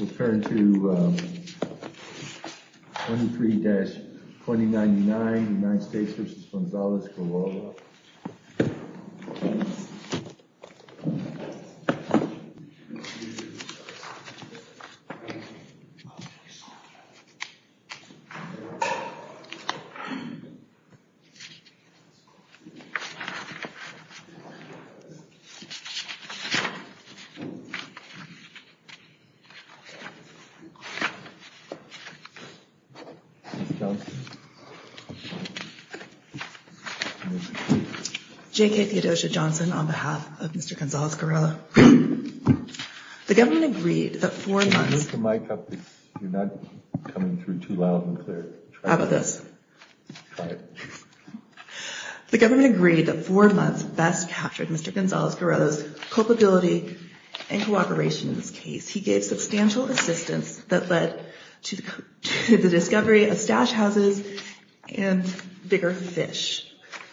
referring to 23-2099 United States v. Gonzalez-Gurrola J.K. Theodosia Johnson on behalf of Mr. Gonzalez-Gurrola. The government agreed that four months best captured Mr. Gonzalez-Gurrola's culpability and cooperation in this case. He gave substantial assistance that led to the discovery of stash houses and bigger fish.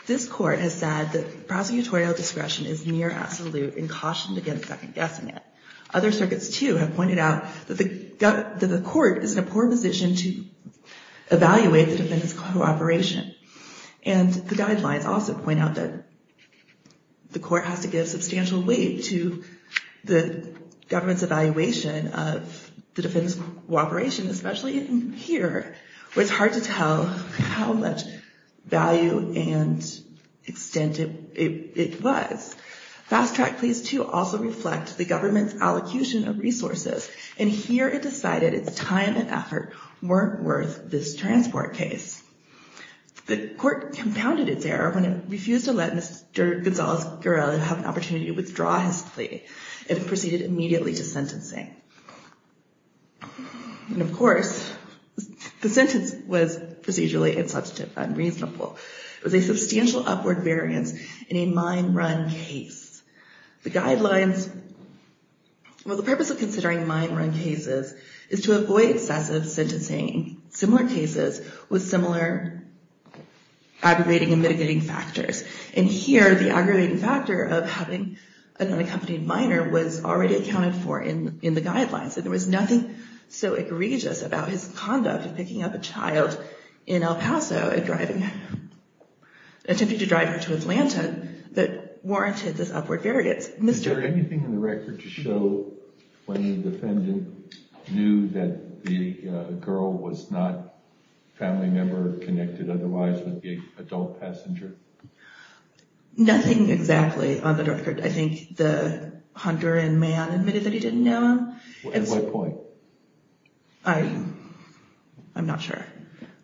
This court has said that prosecutorial discretion is near absolute and cautioned against second-guessing it. Other circuits, too, have pointed out that the court is in a poor position to evaluate the defendant's cooperation. And the guidelines also point out that the court has to give substantial weight to the government's evaluation of the defendant's cooperation, especially in here, where it's hard to tell how much value and extent it was. Fast-track pleas, too, also reflect the government's allocution of resources. And here it decided its time and effort weren't worth this transport case. The court compounded its error when it refused to let Mr. Gonzalez-Gurrola have an opportunity to withdraw his plea and proceeded immediately to sentencing. And of course, the sentence was procedurally insubstantive and unreasonable. It was a substantial upward variance in a mine run case. The guidelines, well, the purpose of considering mine run cases is to avoid excessive sentencing similar cases with similar aggravating and mitigating factors. And here, the aggravating factor of having an unaccompanied minor was already accounted for in the guidelines. And there was nothing so egregious about his conduct of picking up a child in El Paso and attempting to drive her to Atlanta that warranted this upward variance. Is there anything in the record to show when the defendant knew that the girl was not a family member connected otherwise with the adult passenger? Nothing exactly on the record. I think the hunter and man admitted that he didn't know him. At what point? I'm not sure.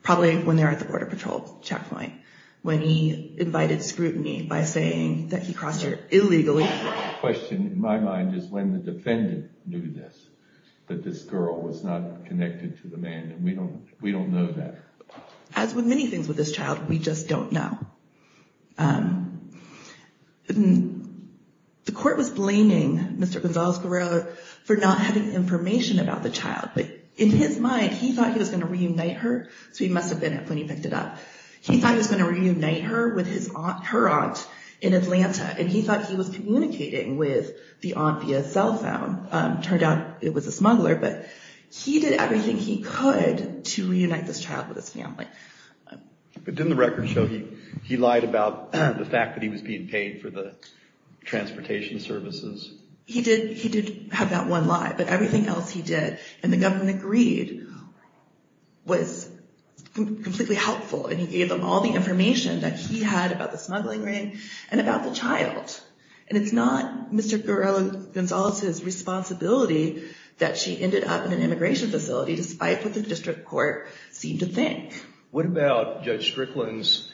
Probably when they were at the Border Patrol checkpoint, when he invited scrutiny by saying that he crossed her illegally. The question in my mind is when the defendant knew this, that this girl was not connected to the man. And we don't know that. As with many things with this child, we just don't know. The court was blaming Mr. Gonzalez-Gurrola for not having information about the child. In his mind, he thought he was going to reunite her. So he must have been when he picked it up. He thought he was going to reunite her with her aunt in Atlanta. And he thought he was communicating with the aunt via cell phone. Turned out it was a smuggler. But he did everything he could to reunite this child with his family. But didn't the record show he lied about the fact that he was being paid for the transportation services? He did have that one lie. But everything else he did, and the government agreed, was completely helpful. And he gave them all the information that he had about the smuggling ring and about the child. And it's not Mr. Gonzalez-Gurrola's responsibility that she ended up in an immigration facility, despite what the district court seemed to think. What about Judge Strickland's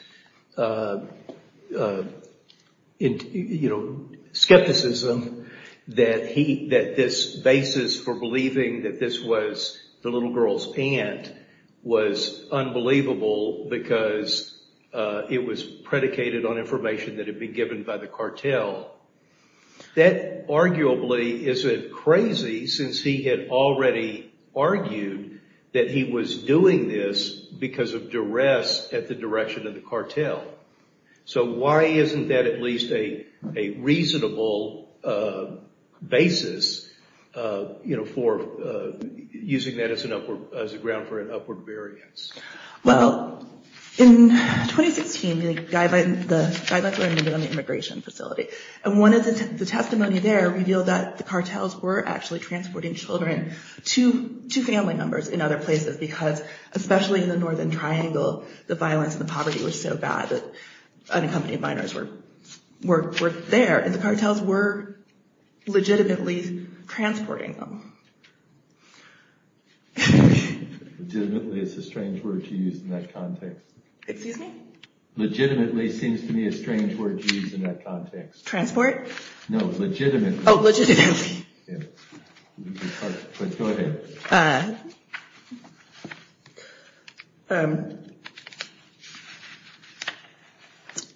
skepticism that this basis for believing that this was the little girl's aunt was unbelievable because it was predicated on information that had been given by the cartel? That arguably isn't crazy, since he had already argued that he was doing this because of duress at the direction of the cartel. So why isn't that at least a reasonable basis for using that as a ground for an upward variance? Well, in 2016, the guidelines were amended on the immigration facility. And one of the testimonies there revealed that the cartels were actually transporting children to family members in other places, because especially in the Northern Triangle, the violence and the poverty were so bad that unaccompanied minors were there. And the cartels were legitimately transporting them. Legitimately is a strange word to use in that context. Excuse me? Legitimately seems to me a strange word to use in that context. Transport? No, legitimately. Oh, legitimately. Legitimately.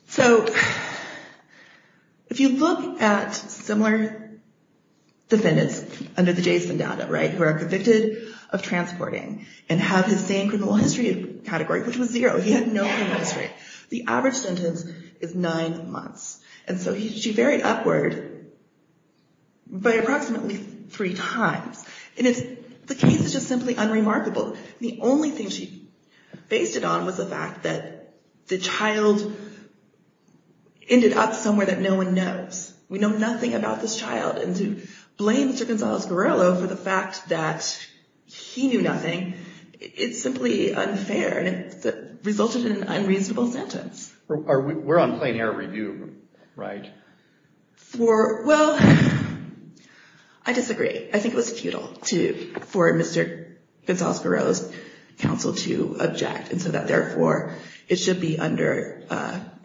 So if you look at similar defendants under the Jason data, right, who are convicted of transporting and have the same criminal history category, which was zero. He had no sentence is nine months. And so she varied upward by approximately three times. And the case is just simply unremarkable. The only thing she based it on was the fact that the child ended up somewhere that no one knows. We know nothing about this child. And to blame Sir Gonzales Guerrero for the fact that he knew nothing, it's simply unfair and resulted in an unreasonable sentence. We're on plain error review, right? Well, I disagree. I think it was futile for Mr. Gonzales Guerrero's counsel to object and so that therefore it should be under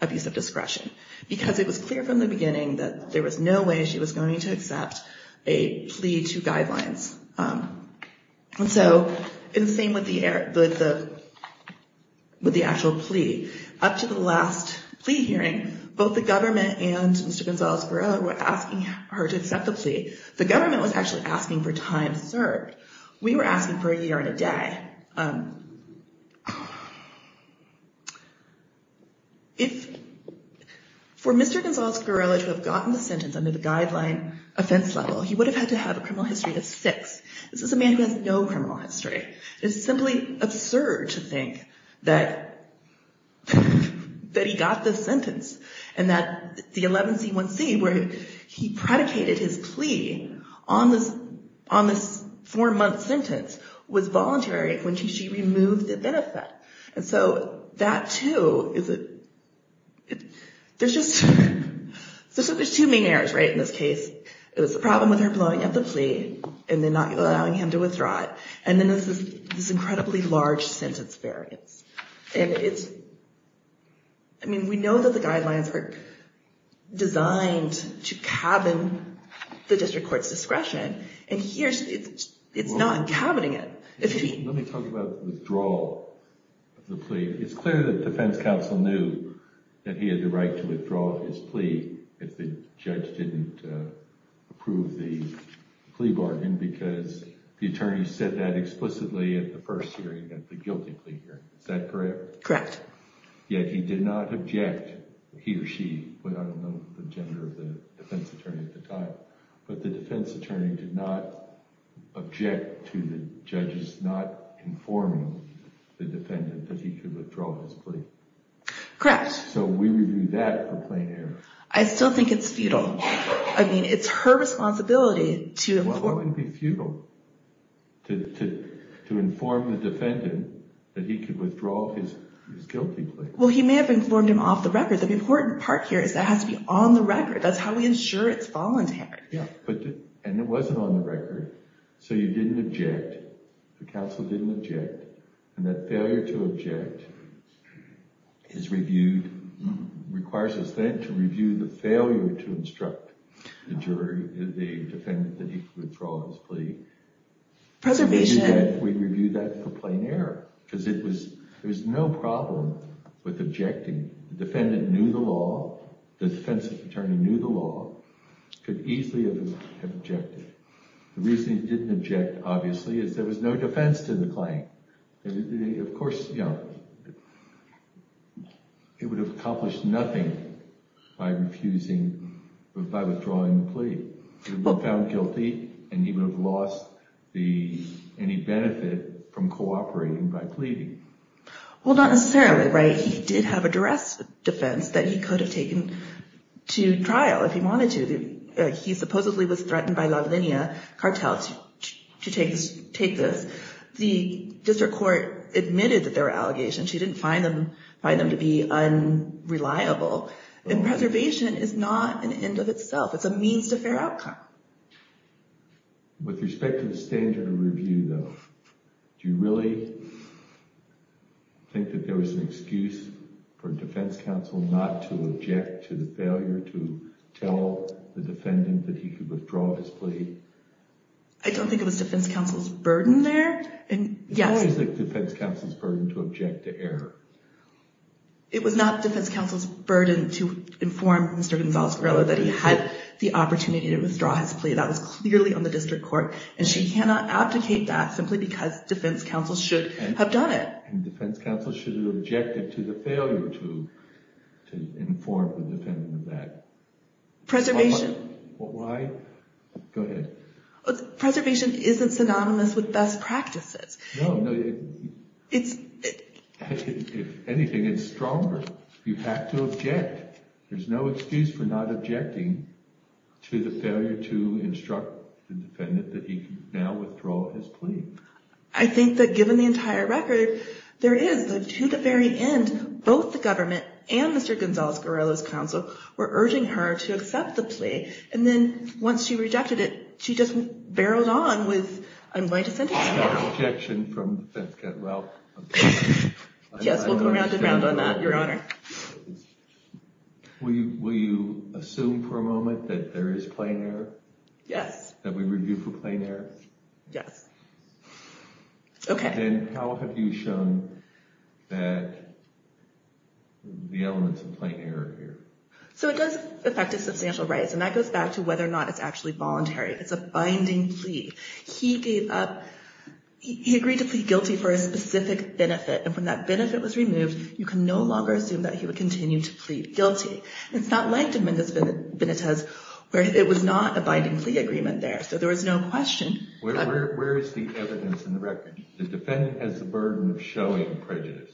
abuse of discretion. Because it was clear from the beginning that there was no way she was going to accept a plea to with the actual plea. Up to the last plea hearing, both the government and Mr. Gonzales Guerrero were asking her to accept the plea. The government was actually asking for time served. We were asking for a year and a day. If for Mr. Gonzales Guerrero to have gotten the sentence under the guideline offense level, he would have had to have a criminal history of six. This is a man who has no criminal history. It's simply absurd to think that he got the sentence and that the 11C1C where he predicated his plea on this four month sentence was voluntary when she removed the benefit. And so that too, there's two main errors in this case. It was the problem with her blowing up the plea and then not allowing him to withdraw it. And then there's this incredibly large sentence variance. I mean, we know that the guidelines were designed to cabin the district court's discretion and here it's not cabbing it. Let me talk about withdrawal of the plea. It's clear that defense counsel knew that he had the right to withdraw his plea if the judge didn't approve the plea bargain because the attorney said that explicitly at the first hearing, at the guilty plea hearing. Is that correct? Correct. Yet he did not object, he or she, but I don't know the gender of the defense attorney at the time, but the defense attorney did not object to the judges not informing the defendant that he could withdraw his plea. Correct. So we would do that for plain error. I still think it's futile. I mean, it's her responsibility to... Well, it wouldn't be futile to inform the defendant that he could withdraw his guilty plea. Well, he may have informed him off the record. The important part here is that has to be on the record. That's how we ensure it's voluntary. Yeah, and it wasn't on the record. So you didn't object, the counsel didn't object, and that failure to object is reviewed, requires us then to review the failure to instruct the defendant that he could withdraw his plea. Preservation. We review that for plain error because it was, there was no problem with objecting. The defendant knew the law, the defense attorney knew the law, could easily have objected. The reason he didn't object, obviously, is there was no defense to the claim. Of course, you know, he would have accomplished nothing by refusing, by withdrawing the plea. He would have been found guilty and he would have lost any benefit from cooperating by pleading. Well, not necessarily, right? He did have a duress defense that he could have taken to trial if he wanted to. He supposedly was threatened by this. The district court admitted that there were allegations. He didn't find them to be unreliable. And preservation is not an end of itself. It's a means to fair outcome. With respect to the standard of review, though, do you really think that there was an excuse for defense counsel not to object to the failure to tell the defendant that he could withdraw his plea? I don't think it was defense counsel's burden there. Why is it defense counsel's burden to object to error? It was not defense counsel's burden to inform Mr. Gonzales-Varela that he had the opportunity to withdraw his plea. That was clearly on the district court and she cannot abdicate that simply because defense counsel should have done it. And defense counsel should have objected to the failure to inform the defendant of that. Preservation. Why? Go ahead. Preservation isn't synonymous with best practices. No, no. It's... If anything, it's stronger. You have to object. There's no excuse for not objecting to the failure to instruct the defendant that he could now withdraw his plea. I think that given the entire record, there is, to the very end, both the government and Mr. Gonzales-Varela's counsel were urging her to accept the plea. And then once she rejected it, she just barreled on with, I'm going to sentence you. Objection from the defense counsel. Yes, we'll go round and round on that, Your Honor. Will you assume for a moment that there is plain error? Yes. That we review for plain error? Yes. Okay. Then how have you shown that the elements of plain error are here? So it does affect his substantial rights, and that goes back to whether or not it's actually voluntary. It's a binding plea. He gave up... He agreed to plead guilty for a specific benefit, and when that benefit was removed, you can no longer assume that he would continue to plead guilty. It's not like Dominguez-Benitez, where it was not a binding plea agreement there. So there was no question. Where is the evidence in the record? The defendant has the burden of showing prejudice.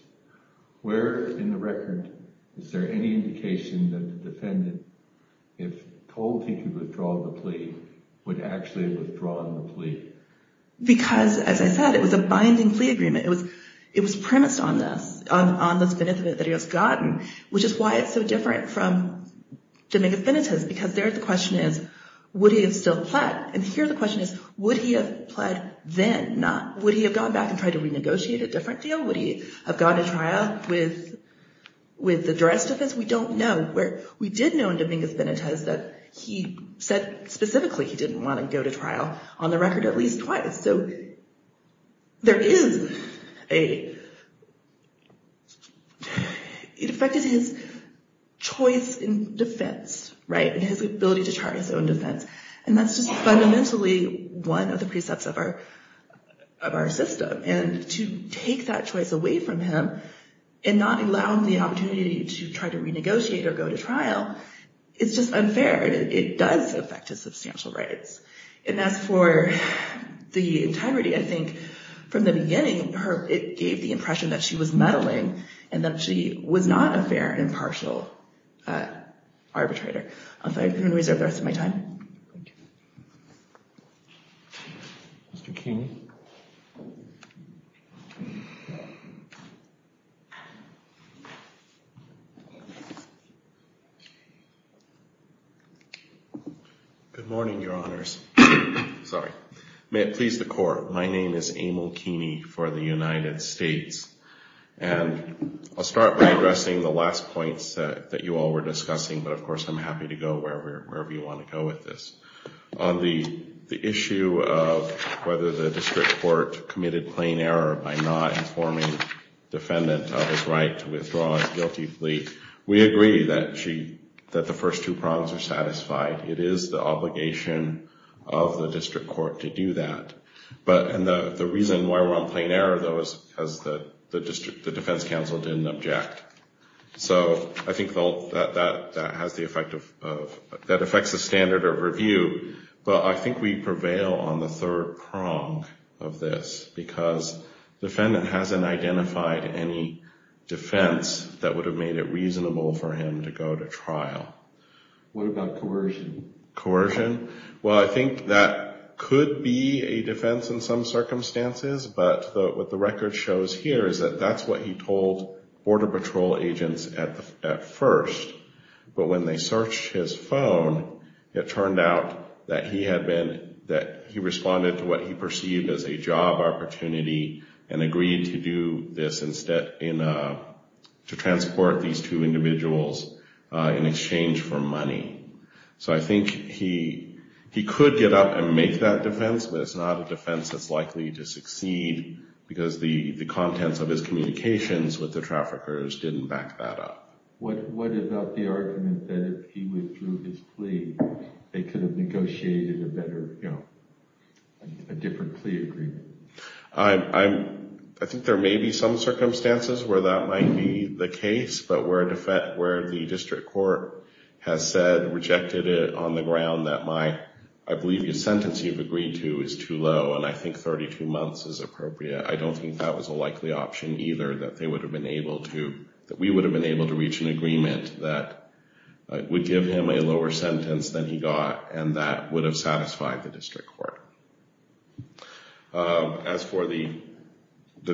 Where in the record is there any indication that the defendant, if told he could withdraw the plea, would actually have withdrawn the plea? Because, as I said, it was a binding plea agreement. It was premised on this, on this benefit that he has gotten, which is why it's so different from Dominguez-Benitez, because there the question is, would he have still pled? And here the question is, would he have pled then? Would he have gone back and tried to renegotiate a different deal? Would he have gone to trial with the duress defense? We don't know. We did know in Dominguez-Benitez that he said specifically he didn't want to go to trial, on the record at least twice. So there is a... It affected his choice in defense, right? And his ability to charge his own defense. And that's just fundamentally one of the precepts of our system. And to take that choice away from him and not allow him the opportunity to try to renegotiate or go to trial, it's just unfair. It does affect his substantial rights. And as for the integrity, I think from the beginning, it gave the impression that she was meddling and that she was not a fair and impartial arbitrator. I'm going to reserve the rest of my time. Thank you. Mr. Keeney. Good morning, Your Honors. Sorry. May it please the Court. My name is Emil Keeney for the United States. And I'll start by addressing the last points that you all were discussing, but of course I'm happy to go wherever you want to go with this. On the issue of whether the district court committed plain error by not informing defendant of his right to withdraw his guilty plea, we agree that the first two prongs are satisfied. It is the obligation of the district court to do that. And the reason why we're on plain error, though, is because the defense counsel didn't object. So I think that affects the standard of review. But I think we prevail on the third prong of this because defendant hasn't identified any defense that would have made it reasonable for him to go to trial. What about coercion? Coercion? Well, I think that could be a defense in some circumstances. But what the record shows here is that that's what he told Border Patrol agents at first. But when they searched his phone, it turned out that he responded to what he perceived as a job opportunity and agreed to do this to transport these two individuals in exchange for money. So I think he could get up and make that defense, but it's not a defense that's likely to succeed because the contents of his testimony and the testimony of the traffickers didn't back that up. What about the argument that if he withdrew his plea, they could have negotiated a better, you know, a different plea agreement? I think there may be some circumstances where that might be the case. But where the district court has said, rejected it on the ground that my, I believe the sentence you've agreed to is too low and I think 32 months is appropriate, I don't think that was a likely option either that they would have been able to, that we would have been able to reach an agreement that would give him a lower sentence than he got and that would have satisfied the district court. As for the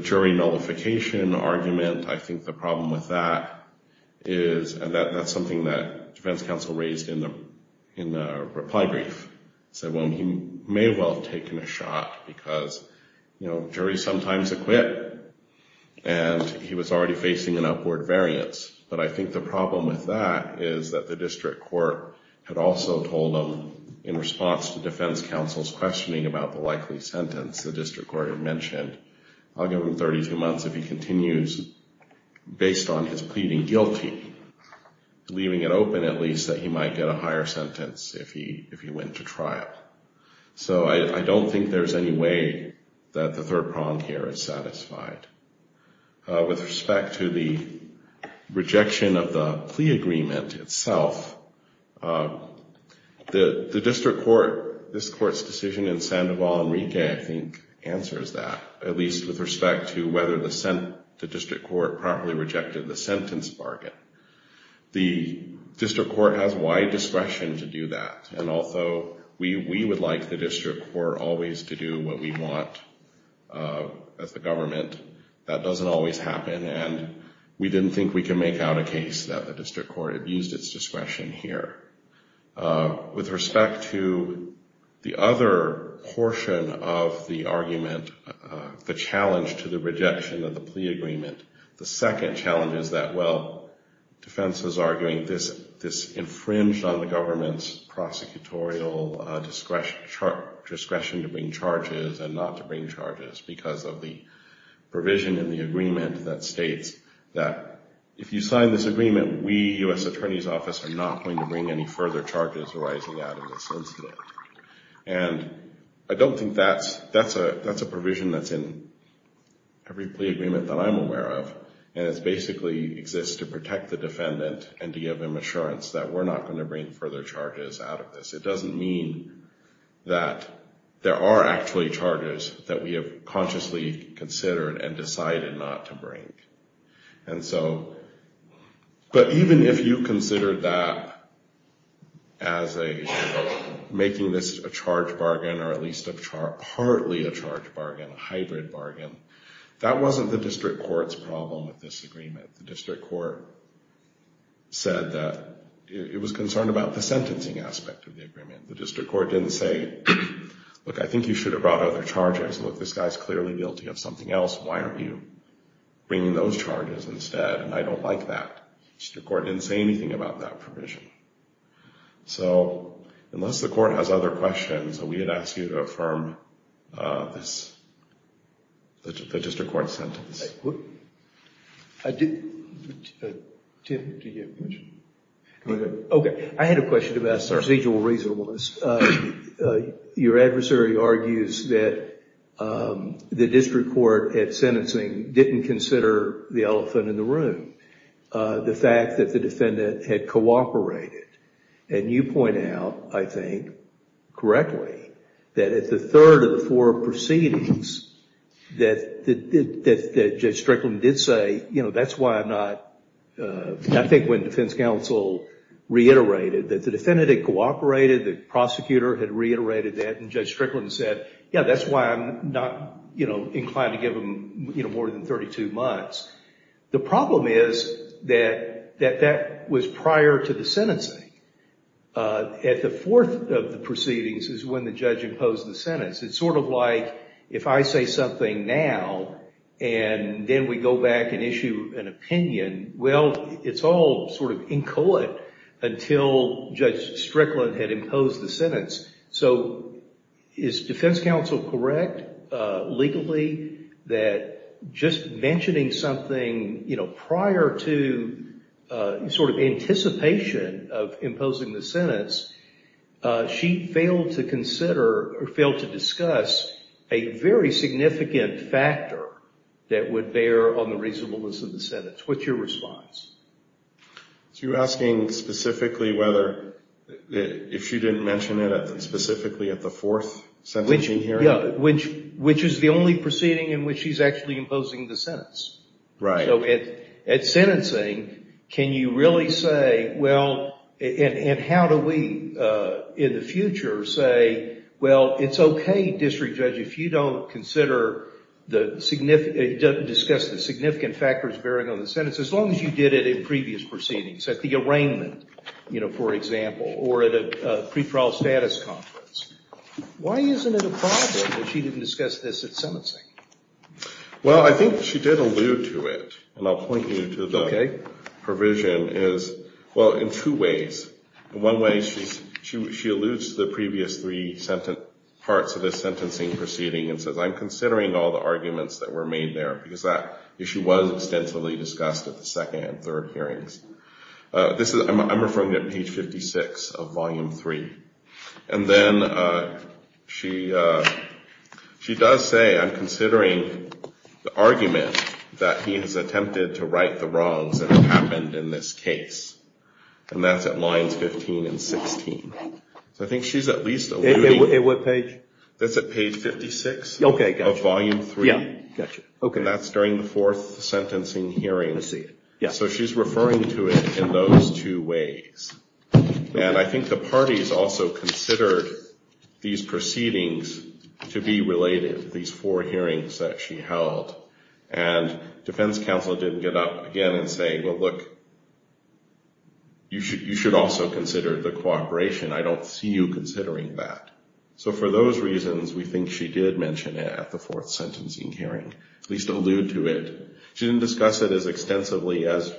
jury nullification argument, I think the problem with that is, and that's something that defense counsel raised in the reply brief. Said, well, he may well have taken a shot because, you know, and he was already facing an upward variance. But I think the problem with that is that the district court had also told him in response to defense counsel's questioning about the likely sentence, the district court had mentioned, I'll give him 32 months if he continues based on his pleading guilty, leaving it open at least that he might get a higher sentence if he went to trial. So I don't think there's any way that the third prong here is wrong. With respect to the rejection of the plea agreement itself, the district court, this court's decision in Sandoval Enrique, I think answers that, at least with respect to whether the district court properly rejected the sentence bargain. The district court has wide discretion to do that. And although we would like the district court always to do what we want as a government, that doesn't always happen. And we didn't think we can make out a case that the district court abused its discretion here. With respect to the other portion of the argument, the challenge to the rejection of the plea agreement, the second challenge is that, well, defense is arguing this infringed on the government's prosecutorial discretion to bring charges and not to bring charges because of the provision in the agreement that states that if you sign this agreement, we, U.S. Attorney's Office, are not going to bring any further charges arising out of this incident. And I don't think that's a provision that's in every plea agreement that I'm aware of, and it basically exists to protect the defendant and to give them assurance that we're not going to bring further charges out of this. It doesn't mean that there are actually charges that we have consciously considered and decided not to bring. And so, but even if you considered that as making this a charge bargain or at least partly a charge bargain, a hybrid bargain, the district court said that it was concerned about the sentencing aspect of the agreement. The district court didn't say, look, I think you should have brought other charges. Look, this guy's clearly guilty of something else. Why aren't you bringing those charges instead? And I don't like that. The district court didn't say anything about that provision. So unless the court has other questions, we would ask you to affirm this, the district court's sentence. Tim, do you have a question? Okay. I had a question about procedural reasonableness. Your adversary argues that the district court at sentencing didn't consider the elephant in the room, the fact that the defendant had cooperated. And you point out, I think, correctly, that at the third of the four proceedings that Judge Strickland did say, you know, that's why I'm not, I think when defense counsel reiterated that the defendant had cooperated, the prosecutor had reiterated that, and Judge Strickland said, yeah, that's why I'm not inclined to give him more than 32 months. The problem is that that was prior to the sentencing. At the fourth of the proceedings is when the judge imposed the sentence, like if I say something now and then we go back and issue an opinion, well, it's all sort of in court until Judge Strickland had imposed the sentence. So is defense counsel correct legally that just mentioning something, you know, prior to sort of anticipation of imposing the sentence, she failed to consider or failed to discuss a very significant factor that would bear on the reasonableness of the sentence? What's your response? So you're asking specifically whether, if she didn't mention it specifically at the fourth sentencing hearing? Yeah, which is the only proceeding in which she's actually imposing the sentence. Right. So at sentencing, can you really say, well, and how do we in the future say, well, it's okay, District Judge, if you don't consider the significant, discuss the significant factors bearing on the sentence, as long as you did it in previous proceedings, at the arraignment, you know, for example, or at a pre-trial status conference. Why isn't it a problem that she didn't discuss this at sentencing? Well, I think she did allude to it, and I'll point you to the provision is, well, in two ways. In one way, she alludes to the previous three parts of the sentencing proceeding and says, I'm considering all the arguments that were made there, because that issue was extensively discussed at the second and third hearings. I'm referring to page 56 of volume 3. And then she does say, I'm considering the argument that he has attempted to right the wrongs that have happened in this case, and that's at lines 15 and 16. So I think she's at least alluding. At what page? That's at page 56 of volume 3. Okay, gotcha. Yeah, gotcha. Okay. And that's during the fourth sentencing hearing. I see. Yeah. So she's referring to it in those two ways. And I think the parties also considered these proceedings to be related, these four hearings that she held. And defense counsel didn't get up again and say, well, look, you should also consider the cooperation. I don't see you considering that. So for those reasons, we think she did mention it at the fourth sentencing hearing, at least allude to it. She didn't discuss it as extensively as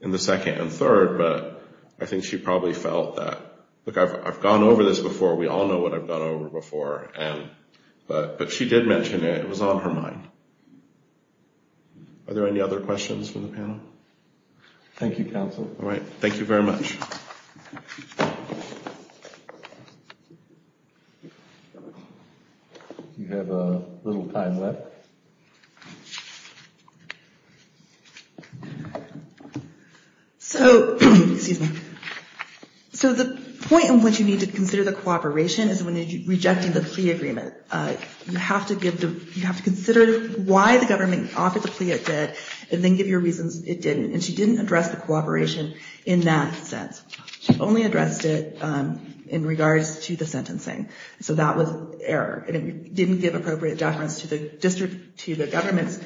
in the second and third, but I think she probably felt that, look, I've gone over this before. We all know what I've gone over before. But she did mention it. It was on her mind. Are there any other questions from the panel? Thank you, counsel. All right. Thank you very much. We have a little time left. All right. So the point in which you need to consider the cooperation is when you're rejecting the plea agreement. You have to consider why the government offered the plea it did and then give your reasons it didn't. And she didn't address the cooperation in that sense. She only addressed it in regards to the sentencing. So that was error. And it didn't give appropriate deference to the government's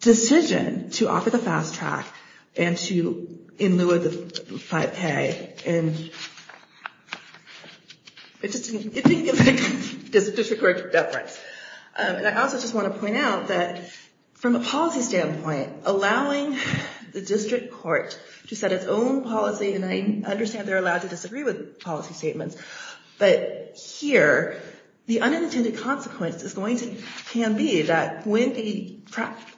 decision to offer the fast track in lieu of the 5K. And it didn't give district court deference. And I also just want to point out that from a policy standpoint, allowing the district court to set its own policy, and I understand they're allowed to disagree with policy statements, but here, the unintended consequence can be that when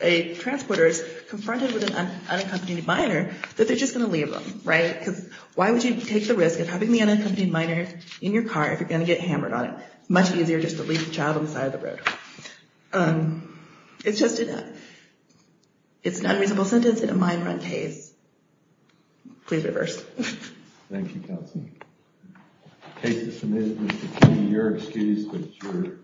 a transporter is confronted with an unaccompanied minor, that they're just going to leave them, right? Because why would you take the risk of having the unaccompanied minor in your car if you're going to get hammered on it? It's much easier just to leave the child on the side of the road. It's just an unreasonable sentence in a mine run case. Please reverse. Thank you, Counsel. Case is submitted, Mr. King. Your excuse, but it's yours.